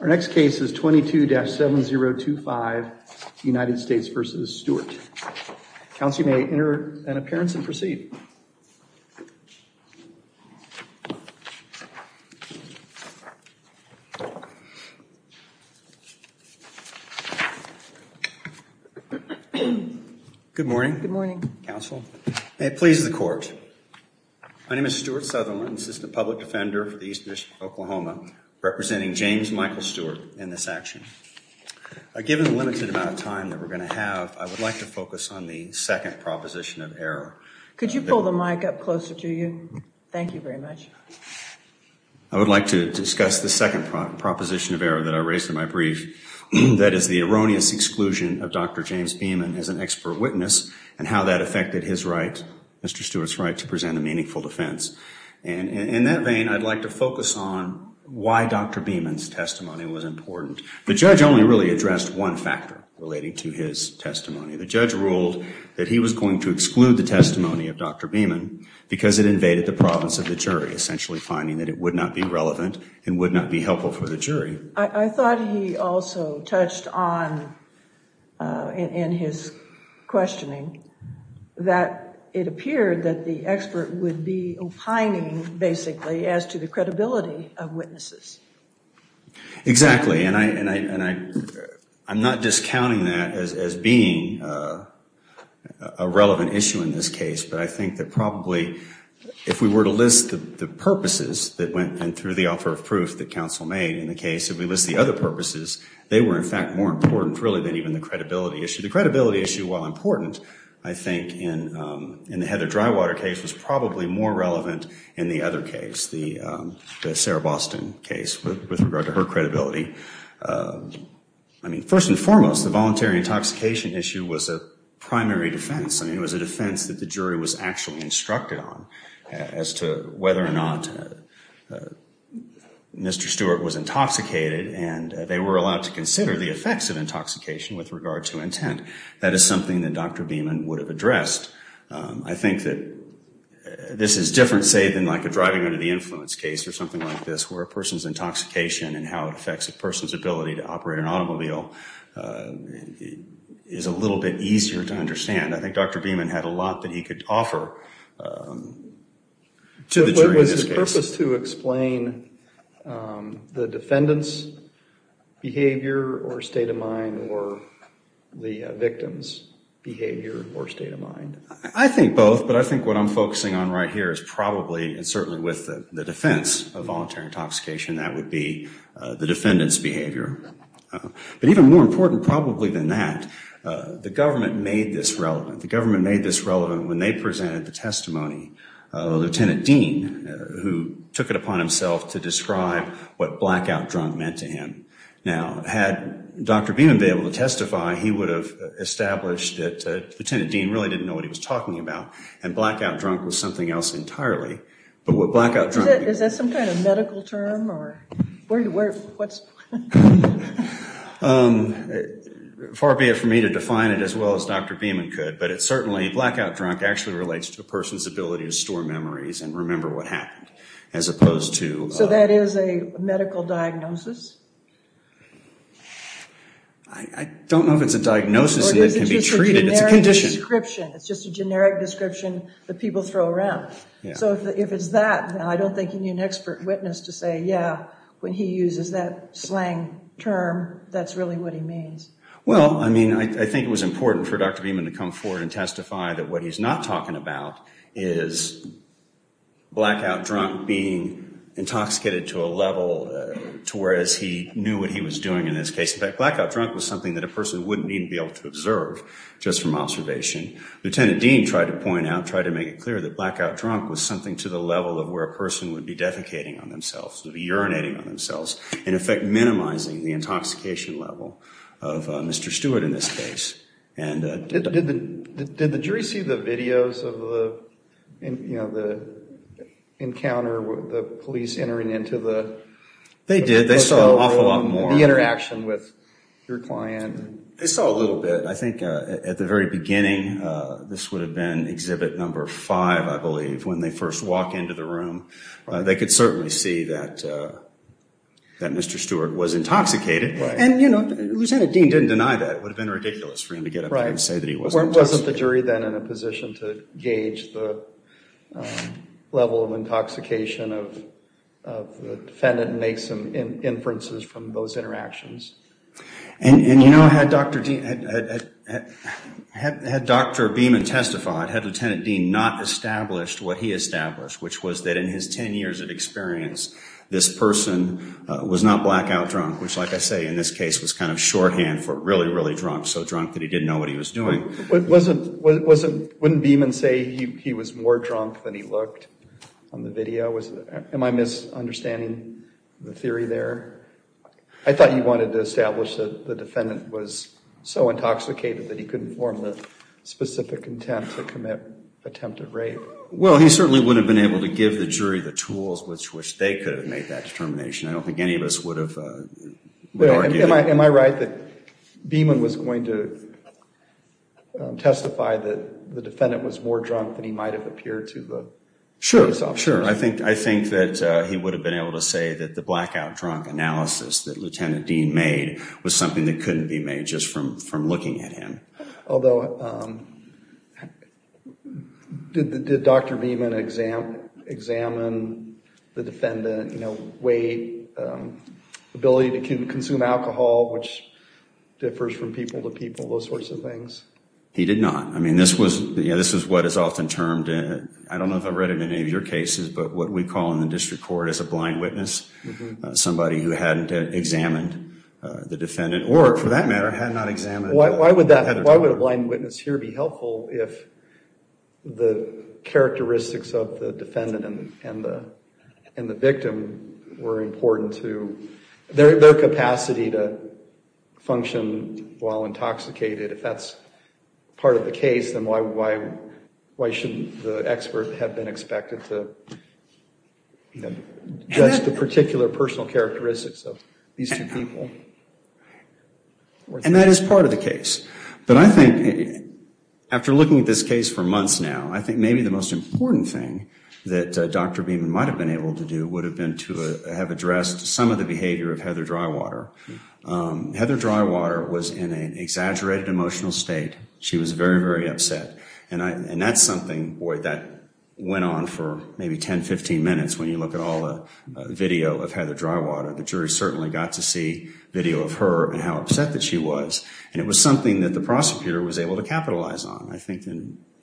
Our next case is 22-7025 United States v. Stewart. Counsel may enter an appearance and proceed. Good morning. Good morning. Counsel. May it please the court. My name is Stewart Southerland. I'm an assistant public defender for the Eastern District of Oklahoma, representing James Michael Stewart in this action. Given the limited amount of time that we're going to have, I would like to focus on the second proposition of error. Could you pull the mic up closer to you? Thank you very much. I would like to discuss the second proposition of error that I raised in my brief. That is the erroneous exclusion of Dr. James Beaman as an expert witness and how that affected his right, Mr. Stewart's right, to present a meaningful defense. In that vein, I'd like to focus on why Dr. Beaman's testimony was important. The judge only really addressed one factor relating to his testimony. The judge ruled that he was going to exclude the testimony of Dr. Beaman because it invaded the province of the jury, essentially finding that it would not be relevant and would not be helpful for the jury. I thought he also touched on, in his questioning, that it appeared that the expert would be opining, basically, as to the credibility of witnesses. Exactly, and I'm not discounting that as being a relevant issue in this case, but I think that probably if we were to list the purposes that went through the offer of proof that we list the other purposes, they were, in fact, more important, really, than even the credibility issue. The credibility issue, while important, I think, in the Heather Drywater case was probably more relevant in the other case, the Sarah Boston case, with regard to her credibility. First and foremost, the voluntary intoxication issue was a primary defense. It was a defense that the jury was actually instructed on as to whether or not Mr. Stewart was intoxicated, and they were allowed to consider the effects of intoxication with regard to intent. That is something that Dr. Beaman would have addressed. I think that this is different, say, than like a driving under the influence case or something like this, where a person's intoxication and how it affects a person's ability to operate an automobile is a little bit easier to understand. I think Dr. Beaman had a lot that he could offer to the jury in this case. Is there a purpose to explain the defendant's behavior or state of mind or the victim's behavior or state of mind? I think both, but I think what I'm focusing on right here is probably, and certainly with the defense of voluntary intoxication, that would be the defendant's behavior. But even more important probably than that, the government made this relevant. When they presented the testimony, Lieutenant Dean, who took it upon himself to describe what blackout drunk meant to him, now, had Dr. Beaman been able to testify, he would have established that Lieutenant Dean really didn't know what he was talking about, and blackout drunk was something else entirely, but what blackout drunk meant to him... Is that some kind of medical term, or what's... Far be it for me to define it as well as Dr. Beaman could, but it certainly, blackout drunk actually relates to a person's ability to store memories and remember what happened, as opposed to... So that is a medical diagnosis? I don't know if it's a diagnosis that can be treated, it's a condition. It's just a generic description that people throw around. So if it's that, I don't think you need an expert witness to say, yeah, when he uses that slang term, that's really what he means. Well, I mean, I think it was important for Dr. Beaman to come forward and testify that what he's not talking about is blackout drunk being intoxicated to a level to where as he knew what he was doing in this case. In fact, blackout drunk was something that a person wouldn't even be able to observe just from observation. Lieutenant Dean tried to point out, tried to make it clear that blackout drunk was something to the level of where a person would be defecating on themselves, would be urinating on themselves, in effect minimizing the intoxication level of Mr. Stewart in this case. Did the jury see the videos of the encounter with the police entering into the... They did. They saw an awful lot more. ...the interaction with your client? They saw a little bit. I think at the very beginning, this would have been exhibit number five, I believe, when they first walk into the room. They could certainly see that Mr. Stewart was intoxicated. And you know, Lieutenant Dean didn't deny that. It would have been ridiculous for him to get up there and say that he wasn't intoxicated. Right. Wasn't the jury then in a position to gauge the level of intoxication of the defendant and make some inferences from those interactions? And you know, had Dr. Beeman testified, had Lieutenant Dean not established what he established, which was that in his 10 years of experience, this person was not blackout drunk, which like I say, in this case was kind of shorthand for really, really drunk, so drunk that he didn't know what he was doing. Wouldn't Beeman say he was more drunk than he looked on the video? Am I misunderstanding the theory there? I thought you wanted to establish that the defendant was so intoxicated that he couldn't form the specific intent to commit attempted rape. Well, he certainly would have been able to give the jury the tools which they could have made that determination. I don't think any of us would have argued that. Am I right that Beeman was going to testify that the defendant was more drunk than he might have appeared to the police officers? Sure. Sure. I think that he would have been able to say that the blackout drunk analysis that Lieutenant Dean made was something that couldn't be made just from looking at him. Although, did Dr. Beeman examine the defendant, you know, weight, ability to consume alcohol, which differs from people to people, those sorts of things? He did not. I mean, this was what is often termed, I don't know if I've read it in any of your cases, but what we call in the district court as a blind witness, somebody who hadn't examined the defendant or, for that matter, had not examined the defendant. Why would that, why would a blind witness here be helpful if the characteristics of the defendant and the victim were important to their capacity to function while intoxicated? If that's part of the case, then why shouldn't the expert have been expected to judge the particular personal characteristics of these two people? And that is part of the case. But I think, after looking at this case for months now, I think maybe the most important thing that Dr. Beeman might have been able to do would have been to have addressed some of the behavior of Heather Drywater. Heather Drywater was in an exaggerated emotional state. She was very, very upset. And that's something, boy, that went on for maybe 10, 15 minutes when you look at all the video of Heather Drywater. The jury certainly got to see video of her and how upset that she was. And it was something that the prosecutor was able to capitalize on. I think,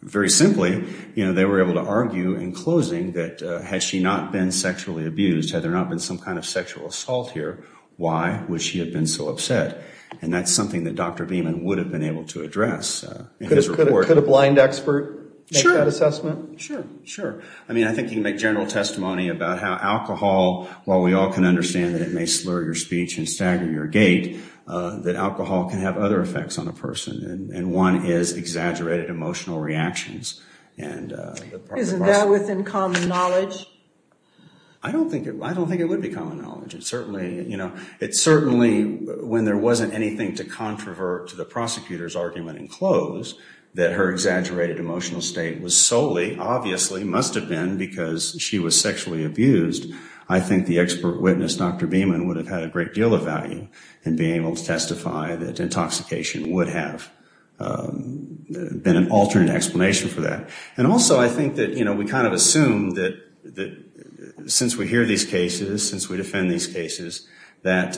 very simply, they were able to argue in closing that had she not been sexually abused, had there not been some kind of sexual assault here, why would the defendant have known that she had been so upset? And that's something that Dr. Beeman would have been able to address in his report. Could a blind expert make that assessment? Sure. Sure. I mean, I think you can make general testimony about how alcohol, while we all can understand that it may slur your speech and stagger your gait, that alcohol can have other effects on a person. And one is exaggerated emotional reactions. And the part of us... Isn't that within common knowledge? I don't think it would be common knowledge. Certainly, when there wasn't anything to controvert to the prosecutor's argument in close, that her exaggerated emotional state was solely, obviously, must have been because she was sexually abused, I think the expert witness, Dr. Beeman, would have had a great deal of value in being able to testify that intoxication would have been an alternate explanation for that. And also, I think that we kind of assume that since we hear these cases, since we defend these cases, that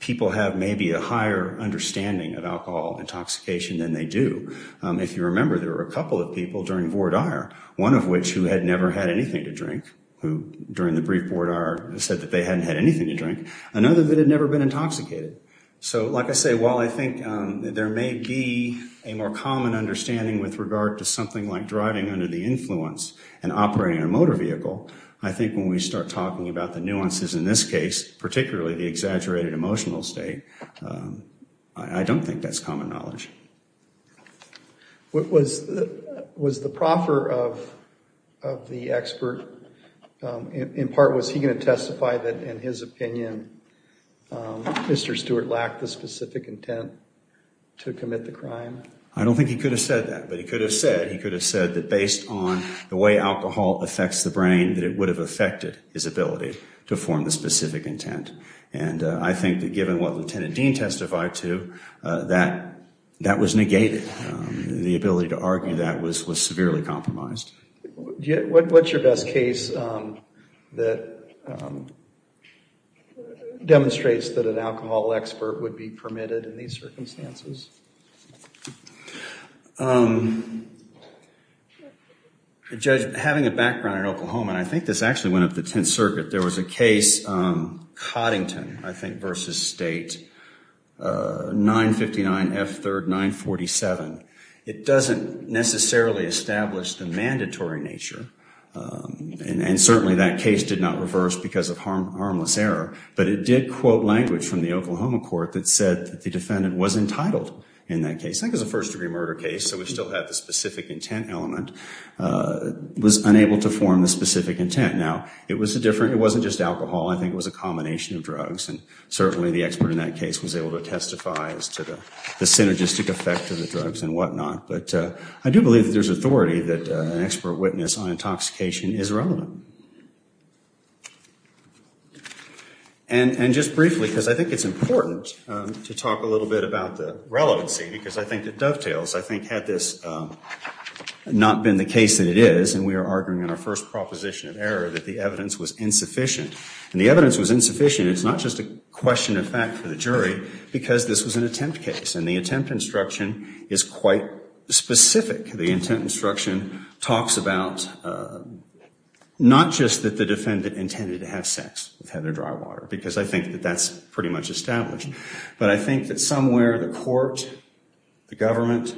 people have maybe a higher understanding of alcohol intoxication than they do. If you remember, there were a couple of people during Vordaer, one of which who had never had anything to drink, who during the brief Vordaer said that they hadn't had anything to drink, another that had never been intoxicated. So like I say, while I think there may be a more common understanding with regard to something like driving under the influence and operating a motor vehicle, I think when we start talking about the nuances in this case, particularly the exaggerated emotional state, I don't think that's common knowledge. Was the proffer of the expert, in part, was he going to testify that in his opinion, Mr. Stewart lacked the specific intent to commit the crime? I don't think he could have said that, but he could have said that based on the way alcohol affects the brain, that it would have affected his ability to form the specific intent. And I think that given what Lieutenant Dean testified to, that was negated. The ability to argue that was severely compromised. What's your best case that demonstrates that an alcohol expert would be permitted in these circumstances? Judge, having a background in Oklahoma, and I think this actually went up the Tenth Circuit, there was a case, Coddington, I think, versus State, 959 F. 3rd 947. It doesn't necessarily establish the mandatory nature, and certainly that case did not reverse because of harmless error, but it did quote language from the Oklahoma court that said the defendant was entitled in that case. I think it was a first-degree murder case, so we still had the specific intent element. Was unable to form the specific intent. Now, it was different. It wasn't just alcohol. I think it was a combination of drugs, and certainly the expert in that case was able to testify as to the synergistic effect of the drugs and whatnot. But I do believe that there's authority that an expert witness on intoxication is relevant. And just briefly, because I think it's important to talk a little bit about the relevancy, because I think it dovetails. I think had this not been the case that it is, and we are arguing in our first proposition of error that the evidence was insufficient, and the evidence was insufficient, it's not just a question of fact for the jury, because this was an attempt case, and the attempt instruction is quite specific. The intent instruction talks about not just that the defendant intended to have sex with Heather Drywater, because I think that that's pretty much established, but I think that somewhere the court, the government,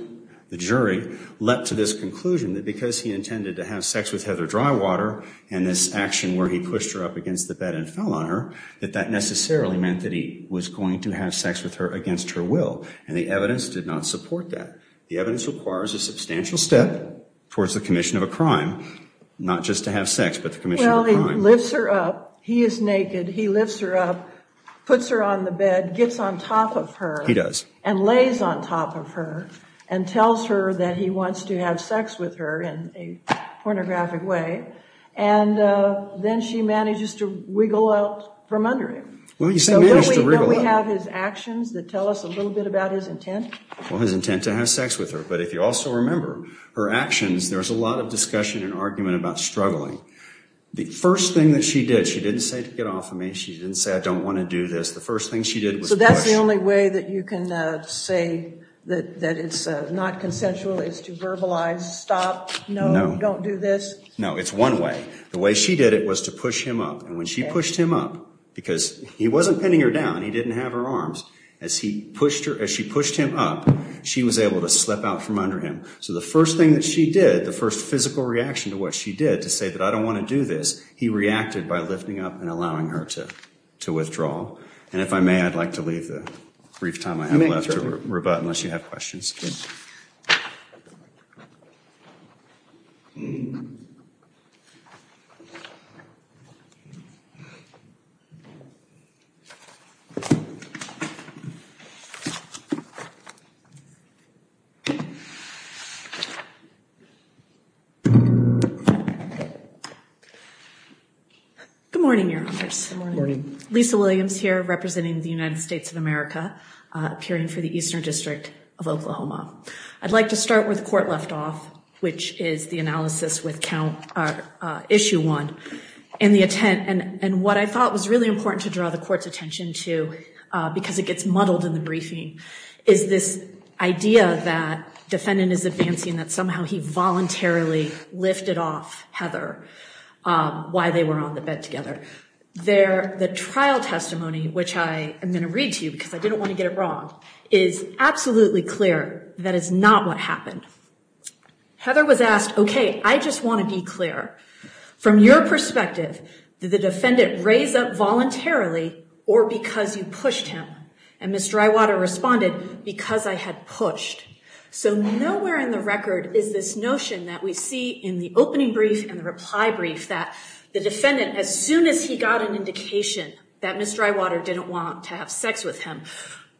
the jury, led to this conclusion that because he intended to have sex with Heather Drywater, and this action where he pushed her up against the bed and fell on her, that that necessarily meant that he was going to have sex with her against her will. And the evidence did not support that. The evidence requires a substantial step towards the commission of a crime, not just to have sex, but the commission of a crime. Well, he lifts her up. He is naked. He lifts her up, puts her on the bed, gets on top of her. He does. And lays on top of her and tells her that he wants to have sex with her in a pornographic way. And then she manages to wiggle out from under him. Well, you say manages to wiggle out. Don't we have his actions that tell us a little bit about his intent? Well, his intent to have sex with her. But if you also remember her actions, there's a lot of discussion and argument about struggling. The first thing that she did, she didn't say to get off of me. She didn't say, I don't want to do this. The first thing she did was push. So that's the only way that you can say that it's not consensual is to verbalize, stop, no, don't do this? No, it's one way. The way she did it was to push him up. And when she pushed him up, because he wasn't pinning her down. He didn't have her arms. As he pushed her, as she pushed him up, she was able to slip out from under him. So the first thing that she did, the first physical reaction to what she did to say that I don't want to do this. He reacted by lifting up and allowing her to withdraw. And if I may, I'd like to leave the brief time I have left to rebut unless you have questions. Lisa Williams here representing the United States of America, appearing for the Eastern District of Oklahoma. I'd like to start with court left off, which is the analysis with count issue one and the intent and what I thought was really important to draw the court's attention to because it gets muddled in the briefing, is this idea that defendant is advancing that somehow he voluntarily lifted off Heather while they were on the bed together. There, the trial testimony, which I am going to read to you because I didn't want to get it wrong, is absolutely clear that is not what happened. Heather was asked, OK, I just want to be clear. From your perspective, did the defendant raise up voluntarily or because you pushed him? And Ms. Drywater responded, because I had pushed. So nowhere in the record is this notion that we see in the opening brief and the reply brief that the defendant, as soon as he got an indication that Ms. Drywater didn't want to have sex with him,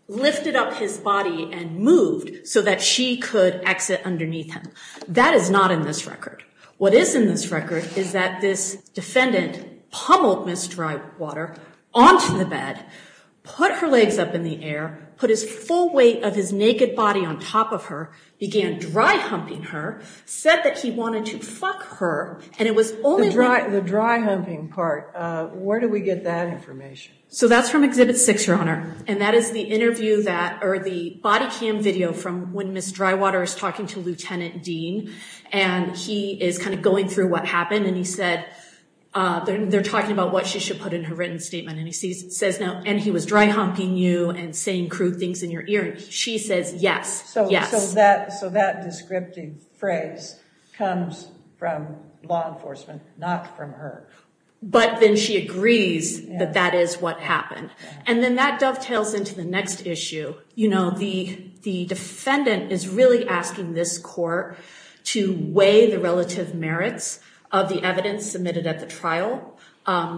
lifted up his body and moved so that she could exit underneath him. That is not in this record. What is in this record is that this defendant pummeled Ms. Drywater onto the bed, put her legs up in the air, put his full weight of his naked body on top of her, began dry humping her, said that he wanted to fuck her. And it was only the dry humping part. Where do we get that information? So that's from Exhibit 6, Your Honor. And that is the interview that or the body cam video from when Ms. Drywater is talking to Lieutenant Dean. And he is kind of going through what happened. And he said, they're talking about what she should put in her written statement. And he says now, and he was dry humping you and saying crude things in your ear. She says, yes. So, yes, that so that descriptive phrase comes from law enforcement, not from her. But then she agrees that that is what happened. And then that dovetails into the next issue. You know, the defendant is really asking this court to weigh the relative merits of the evidence submitted at the trial.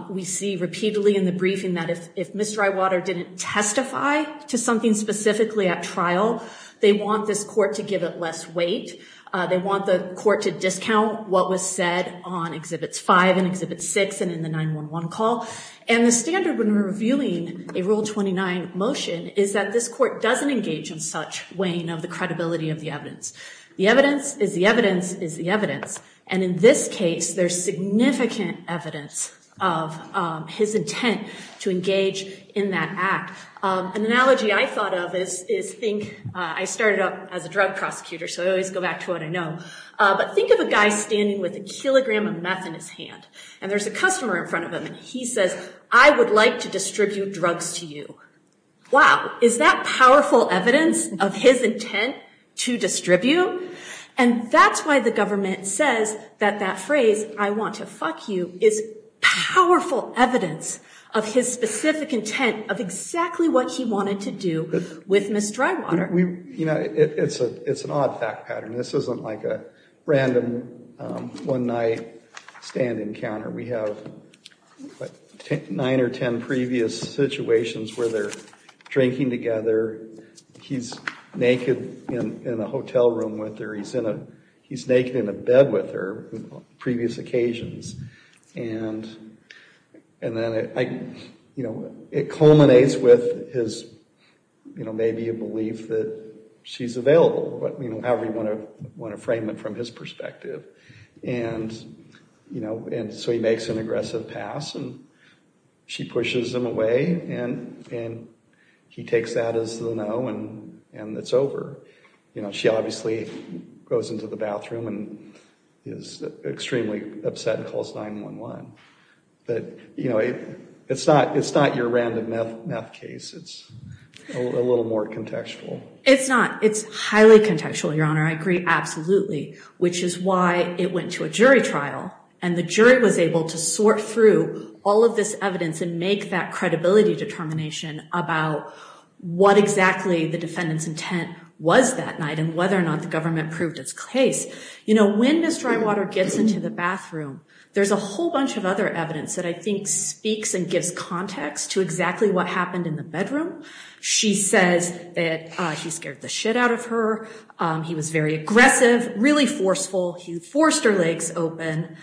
We see repeatedly in the briefing that if Ms. Drywater didn't testify to something specifically at trial, they want this court to give it less weight. They want the court to discount what was said on Exhibits 5 and Exhibit 6 and in the 911 call. And the standard when reviewing a Rule 29 motion is that this court doesn't engage in such weighing of the credibility of the evidence. The evidence is the evidence is the evidence. And in this case, there's significant evidence of his intent to engage in that act. An analogy I thought of is is think I started up as a drug prosecutor. So I always go back to what I know. But think of a guy standing with a kilogram of meth in his hand and there's a customer in front of him. He says, I would like to distribute drugs to you. Wow. Is that powerful evidence of his intent to distribute? And that's why the government says that that phrase, I want to fuck you, is powerful evidence of his specific intent of exactly what he wanted to do with Ms. Drywater. You know, it's a it's an odd fact pattern. This isn't like a random one night stand encounter. We have nine or 10 previous situations where they're drinking together. He's naked in a hotel room with her. He's in a he's naked in a bed with her on previous occasions. And and then, you know, it culminates with his, you know, maybe a belief that she's available. But, you know, however you want to want to frame it from his perspective. And, you know, and so he makes an aggressive pass and she pushes him away and and he takes that as the no and and it's over. You know, she obviously goes into the bathroom and is extremely upset and calls 9-1-1. But, you know, it's not it's not your random meth case. It's a little more contextual. It's not. It's highly contextual, Your Honor. I agree. Absolutely. Which is why it went to a jury trial and the jury was able to sort through all of this evidence and make that credibility determination about what exactly the defendant's intent was that night and whether or not the government proved its case. You know, when Ms. Drywater gets into the bathroom, there's a whole bunch of other evidence that I think speaks and gives context to exactly what happened in the bedroom. She says that he scared the shit out of her. He was very aggressive, really forceful. He forced her legs open.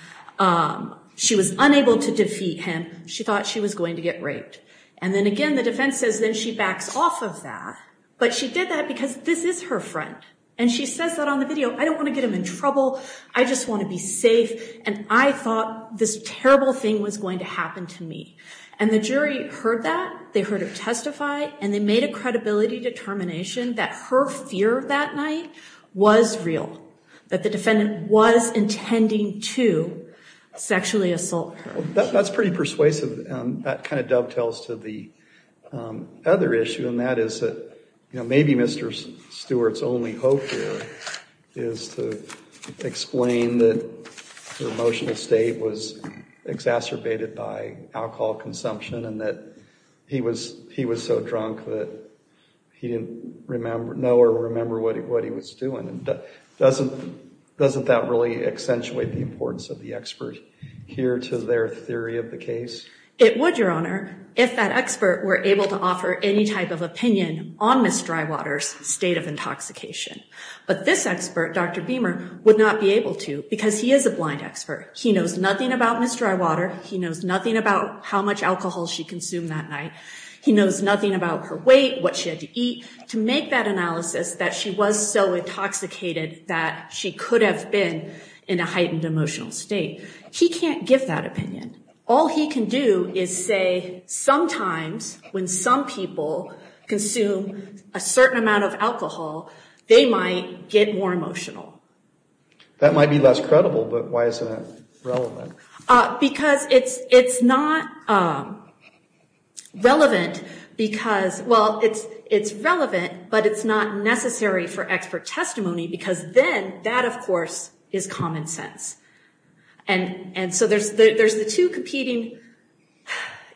She was unable to defeat him. She thought she was going to get raped. And then again, the defense says that she backs off of that. But she did that because this is her friend. And she says that on the video. I don't want to get him in trouble. I just want to be safe. And I thought this terrible thing was going to happen to me. And the jury heard that. They heard her testify and they made a credibility determination that her fear that night was real, that the defendant was intending to sexually assault her. That's pretty persuasive. That kind of dovetails to the other issue and that is that maybe Mr. Stewart's only hope here is to explain that her emotional state was exacerbated by alcohol consumption. And that he was he was so drunk that he didn't know or remember what he was doing. And doesn't that really accentuate the importance of the expert here to their theory of the case? It would, Your Honor, if that expert were able to offer any type of opinion on Ms. Drywater's state of intoxication. But this expert, Dr. Beamer, would not be able to because he is a blind expert. He knows nothing about Ms. Drywater. He knows nothing about how much alcohol she consumed that night. He knows nothing about her weight, what she had to eat to make that analysis that she was so intoxicated that she could have been in a heightened emotional state. He can't give that opinion. All he can do is say sometimes when some people consume a certain amount of alcohol, they might get more emotional. That might be less credible. But why is that relevant? Because it's it's not relevant because, well, it's it's relevant, but it's not necessary for expert testimony because then that, of course, is common sense. And and so there's there's the two competing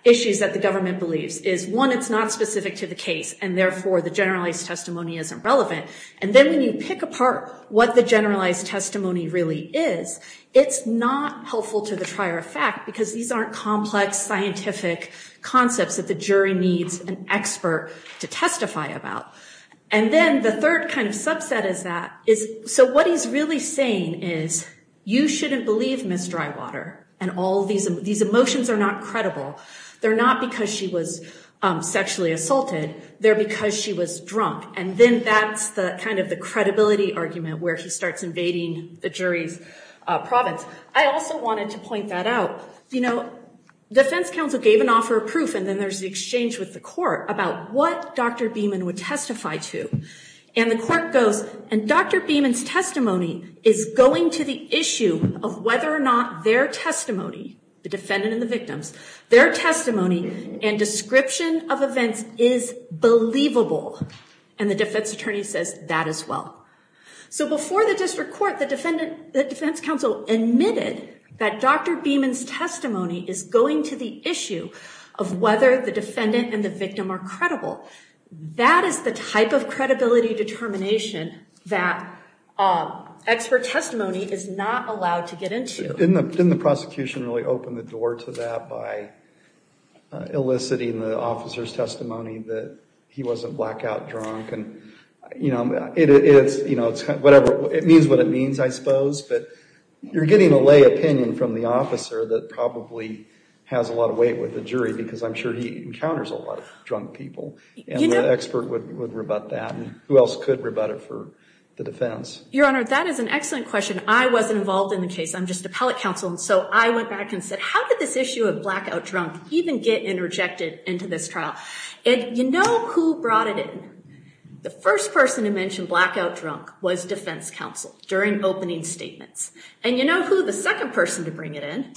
issues that the government believes is one, it's not specific to the case and therefore the generalized testimony isn't relevant. And then when you pick apart what the generalized testimony really is, it's not helpful to the trier of fact because these aren't complex scientific concepts that the jury needs an expert to testify about. And then the third kind of subset is that is so what he's really saying is you shouldn't believe Ms. Drywater and all these these emotions are not credible. They're not because she was sexually assaulted there because she was drunk. And then that's the kind of the credibility argument where he starts invading the jury's province. I also wanted to point that out. You know, defense counsel gave an offer of proof. And then there's the exchange with the court about what Dr. Beeman would testify to. And the court goes and Dr. Beeman's testimony is going to the issue of whether or not their testimony, the defendant and the victims, their testimony and description of events is believable. And the defense attorney says that as well. So before the district court, the defendant, the defense counsel admitted that Dr. Beeman's testimony is going to the issue of whether the defendant and the victim are credible. That is the type of credibility determination that expert testimony is not allowed to get into. Didn't the prosecution really open the door to that by eliciting the officer's testimony that he wasn't blackout drunk? And, you know, it's, you know, whatever it means, what it means, I suppose. But you're getting a lay opinion from the officer that probably has a lot of weight with the jury because I'm sure he encounters a lot of drunk people. And the expert would rebut that. And who else could rebut it for the defense? Your Honor, that is an excellent question. I wasn't involved in the case. I'm just appellate counsel. And so I went back and said, how did this issue of blackout drunk even get interjected into this trial? And you know who brought it in? The first person to mention blackout drunk was defense counsel during opening statements. And you know who the second person to bring it in?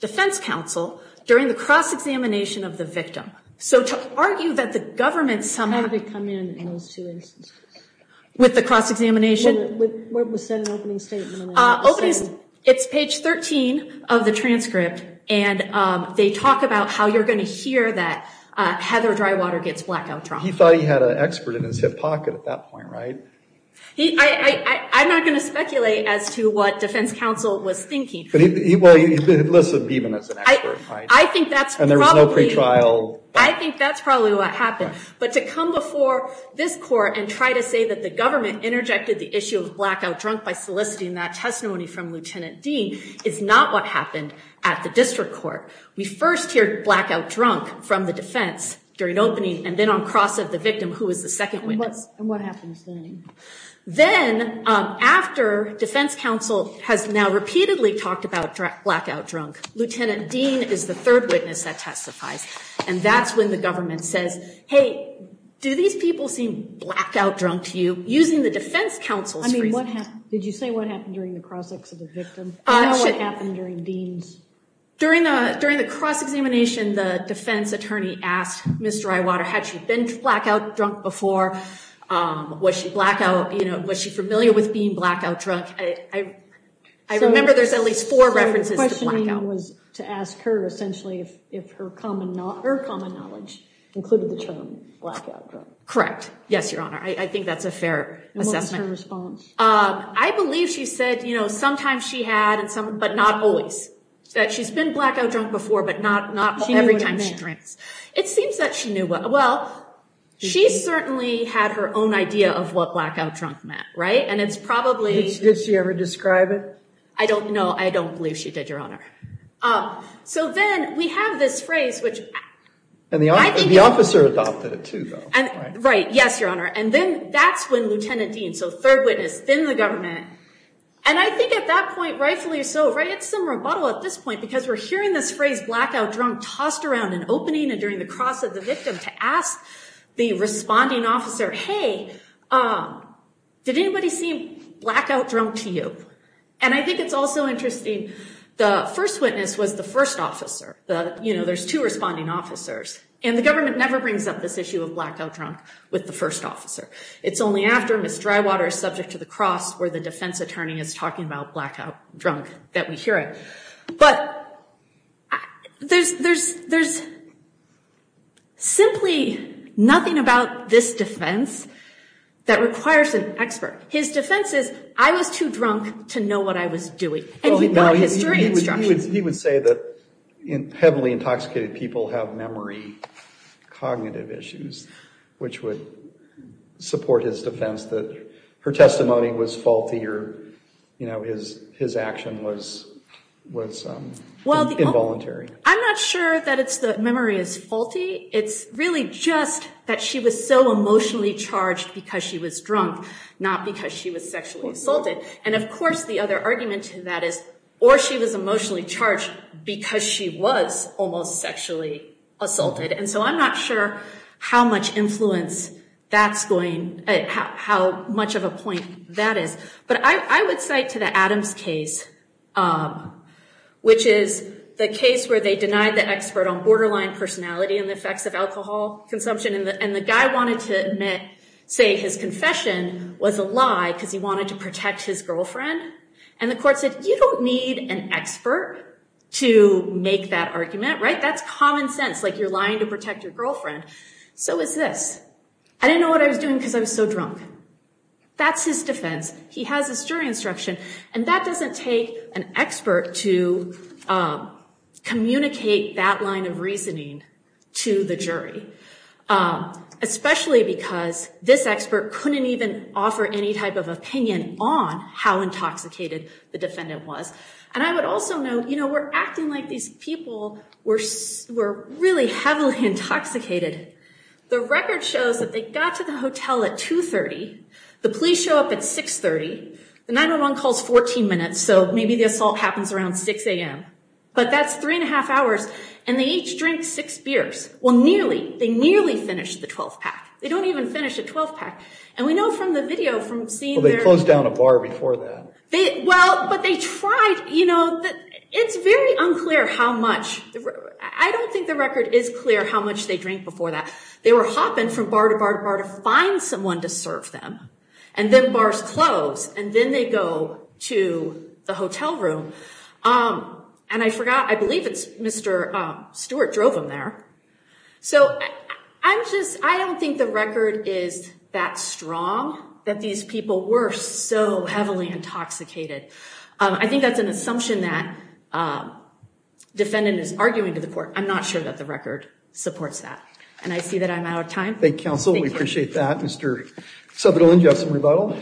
Defense counsel during the cross-examination of the victim. So to argue that the government somehow- How did it come in in those two instances? With the cross-examination? With what was said in the opening statement? Opening- it's page 13 of the transcript. And they talk about how you're going to hear that Heather Drywater gets blackout drunk. He thought he had an expert in his hip pocket at that point, right? He- I'm not going to speculate as to what defense counsel was thinking. But he- well, he listed Beeman as an expert, right? I think that's probably- And there was no pretrial- I think that's probably what happened. But to come before this court and try to say that the government interjected the issue of blackout drunk by soliciting that testimony from Lieutenant Dean is not what happened at the district court. We first hear blackout drunk from the defense during opening and then on cross of the victim, who is the second witness? And what happens then? Then, after defense counsel has now repeatedly talked about blackout drunk, Lieutenant Dean is the third witness that testifies. And that's when the government says, hey, do these people seem blackout drunk to you? Using the defense counsel's- I mean, what happened? Did you say what happened during the cross-examination of the victim? I know what happened during Dean's. During the cross-examination, the defense attorney asked Mr. Drywater, had she been blackout drunk before? Was she blackout- you know, was she familiar with being blackout drunk? I remember there's at least four references to blackout. The question was to ask her, essentially, if her common knowledge included the term blackout drunk. Correct. Yes, Your Honor. I think that's a fair assessment. And what was her response? I believe she said, you know, sometimes she had, but not always, that she's been blackout drunk before, but not every time she drinks. It seems that she knew what- well, she certainly had her own idea of what blackout drunk meant, right? And it's probably- Did she ever describe it? I don't know. I don't believe she did, Your Honor. So then we have this phrase, which- And the officer adopted it, too, though, right? Right. Yes, Your Honor. And then that's when Lieutenant Dean, so third witness, then the government. And I think at that point, rightfully so, right? It's some rebuttal at this point because we're hearing this phrase, blackout drunk, tossed around an opening and during the cross of the victim to ask the responding officer, hey, did anybody seem blackout drunk to you? And I think it's also interesting. The first witness was the first officer. You know, there's two responding officers. And the government never brings up this issue of blackout drunk with the first officer. It's only after Ms. Drywater is subject to the cross where the defense attorney is talking about blackout drunk that we hear it. But there's simply nothing about this defense that requires an expert. His defense is, I was too drunk to know what I was doing. And he got his jury instructions. He would say that heavily intoxicated people have memory cognitive issues, which would support his defense that her testimony was faulty or, you know, his action was involuntary. I'm not sure that it's the memory is faulty. It's really just that she was so emotionally charged because she was drunk, not because she was sexually assaulted. And of course, the other argument to that is, or she was emotionally charged because she was almost sexually assaulted. And so I'm not sure how much influence that's going, how much of a point that is. But I would cite to the Adams case, which is the case where they denied the expert on borderline personality and the effects of alcohol consumption. And the guy wanted to admit, say, his confession was a lie because he wanted to protect his girlfriend. And the court said, you don't need an expert to make that argument. Right. That's common sense. Like you're lying to protect your girlfriend. So is this. I didn't know what I was doing because I was so drunk. That's his defense. He has this jury instruction. And that doesn't take an expert to communicate that line of reasoning to the jury. Especially because this expert couldn't even offer any type of opinion on how intoxicated the defendant was. And I would also note, you know, we're acting like these people were really heavily intoxicated. The record shows that they got to the hotel at 2.30. The police show up at 6.30. The 9-1-1 calls 14 minutes. So maybe the assault happens around 6 a.m. But that's three and a half hours. And they each drink six beers. Well, nearly. They nearly finished the 12th pack. They don't even finish a 12th pack. And we know from the video from seeing. They closed down a bar before that. Well, but they tried. You know, it's very unclear how much. I don't think the record is clear how much they drank before that. They were hopping from bar to bar to bar to find someone to serve them. And then bars close. And then they go to the hotel room. And I forgot. I believe it's Mr. Stewart drove him there. So I'm just I don't think the record is that strong that these people were so heavily intoxicated. I think that's an assumption that defendant is arguing to the court. I'm not sure that the record supports that. And I see that I'm out of time. Thank you, counsel. We appreciate that. Mr. Subtle Injustice and Rebuttal.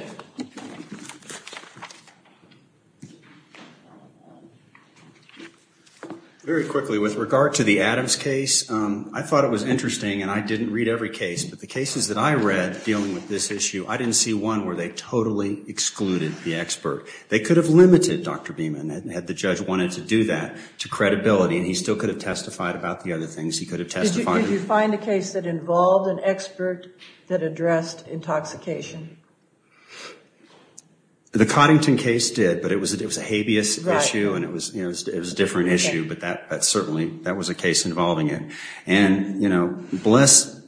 Very quickly, with regard to the Adams case, I thought it was interesting and I didn't read every case, but the cases that I read dealing with this issue, I didn't see one where they totally excluded the expert. They could have limited Dr. Beeman had the judge wanted to do that to credibility. And he still could have testified about the other things he could have testified. Did you find a case that involved an expert that addressed intoxication? The Coddington case did, but it was it was a habeas issue and it was it was a different issue. But that certainly that was a case involving it. And, you know, bless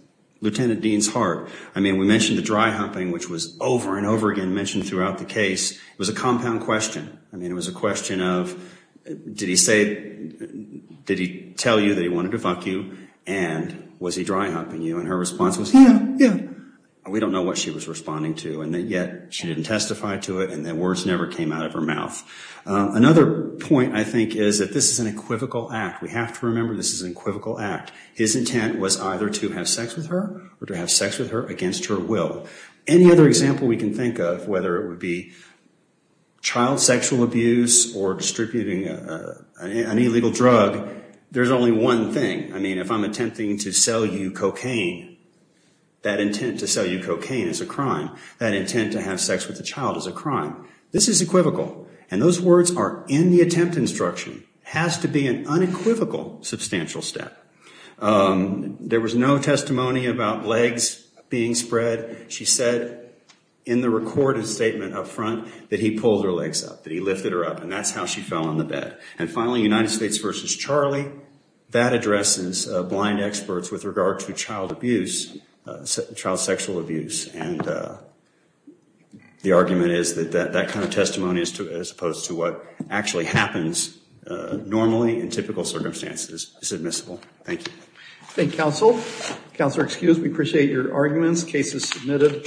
Lieutenant Dean's heart. I mean, we mentioned the dry humping, which was over and over again mentioned throughout the case. It was a compound question. I mean, it was a question of, did he say, did he tell you that he wanted to fuck you? And was he dry humping you? And her response was, yeah, yeah. We don't know what she was responding to. And yet she didn't testify to it. And then words never came out of her mouth. Another point, I think, is that this is an equivocal act. We have to remember this is an equivocal act. His intent was either to have sex with her or to have sex with her against her will. Any other example we can think of, whether it would be child sexual abuse or distributing an illegal drug, there's only one thing. I mean, if I'm attempting to sell you cocaine, that intent to sell you cocaine is a crime. That intent to have sex with the child is a crime. This is equivocal. And those words are in the attempt instruction. Has to be an unequivocal substantial step. There was no testimony about legs being spread. She said in the recorded statement up front that he pulled her legs up, that he lifted her up. And that's how she fell on the bed. And finally, United States versus Charlie, that addresses blind experts with regard to child abuse, child sexual abuse. And the argument is that that kind of testimony as opposed to what actually happens normally in typical circumstances is admissible. Thank you. Thank you, counsel. Counselor, excuse me. Appreciate your arguments. Case is submitted.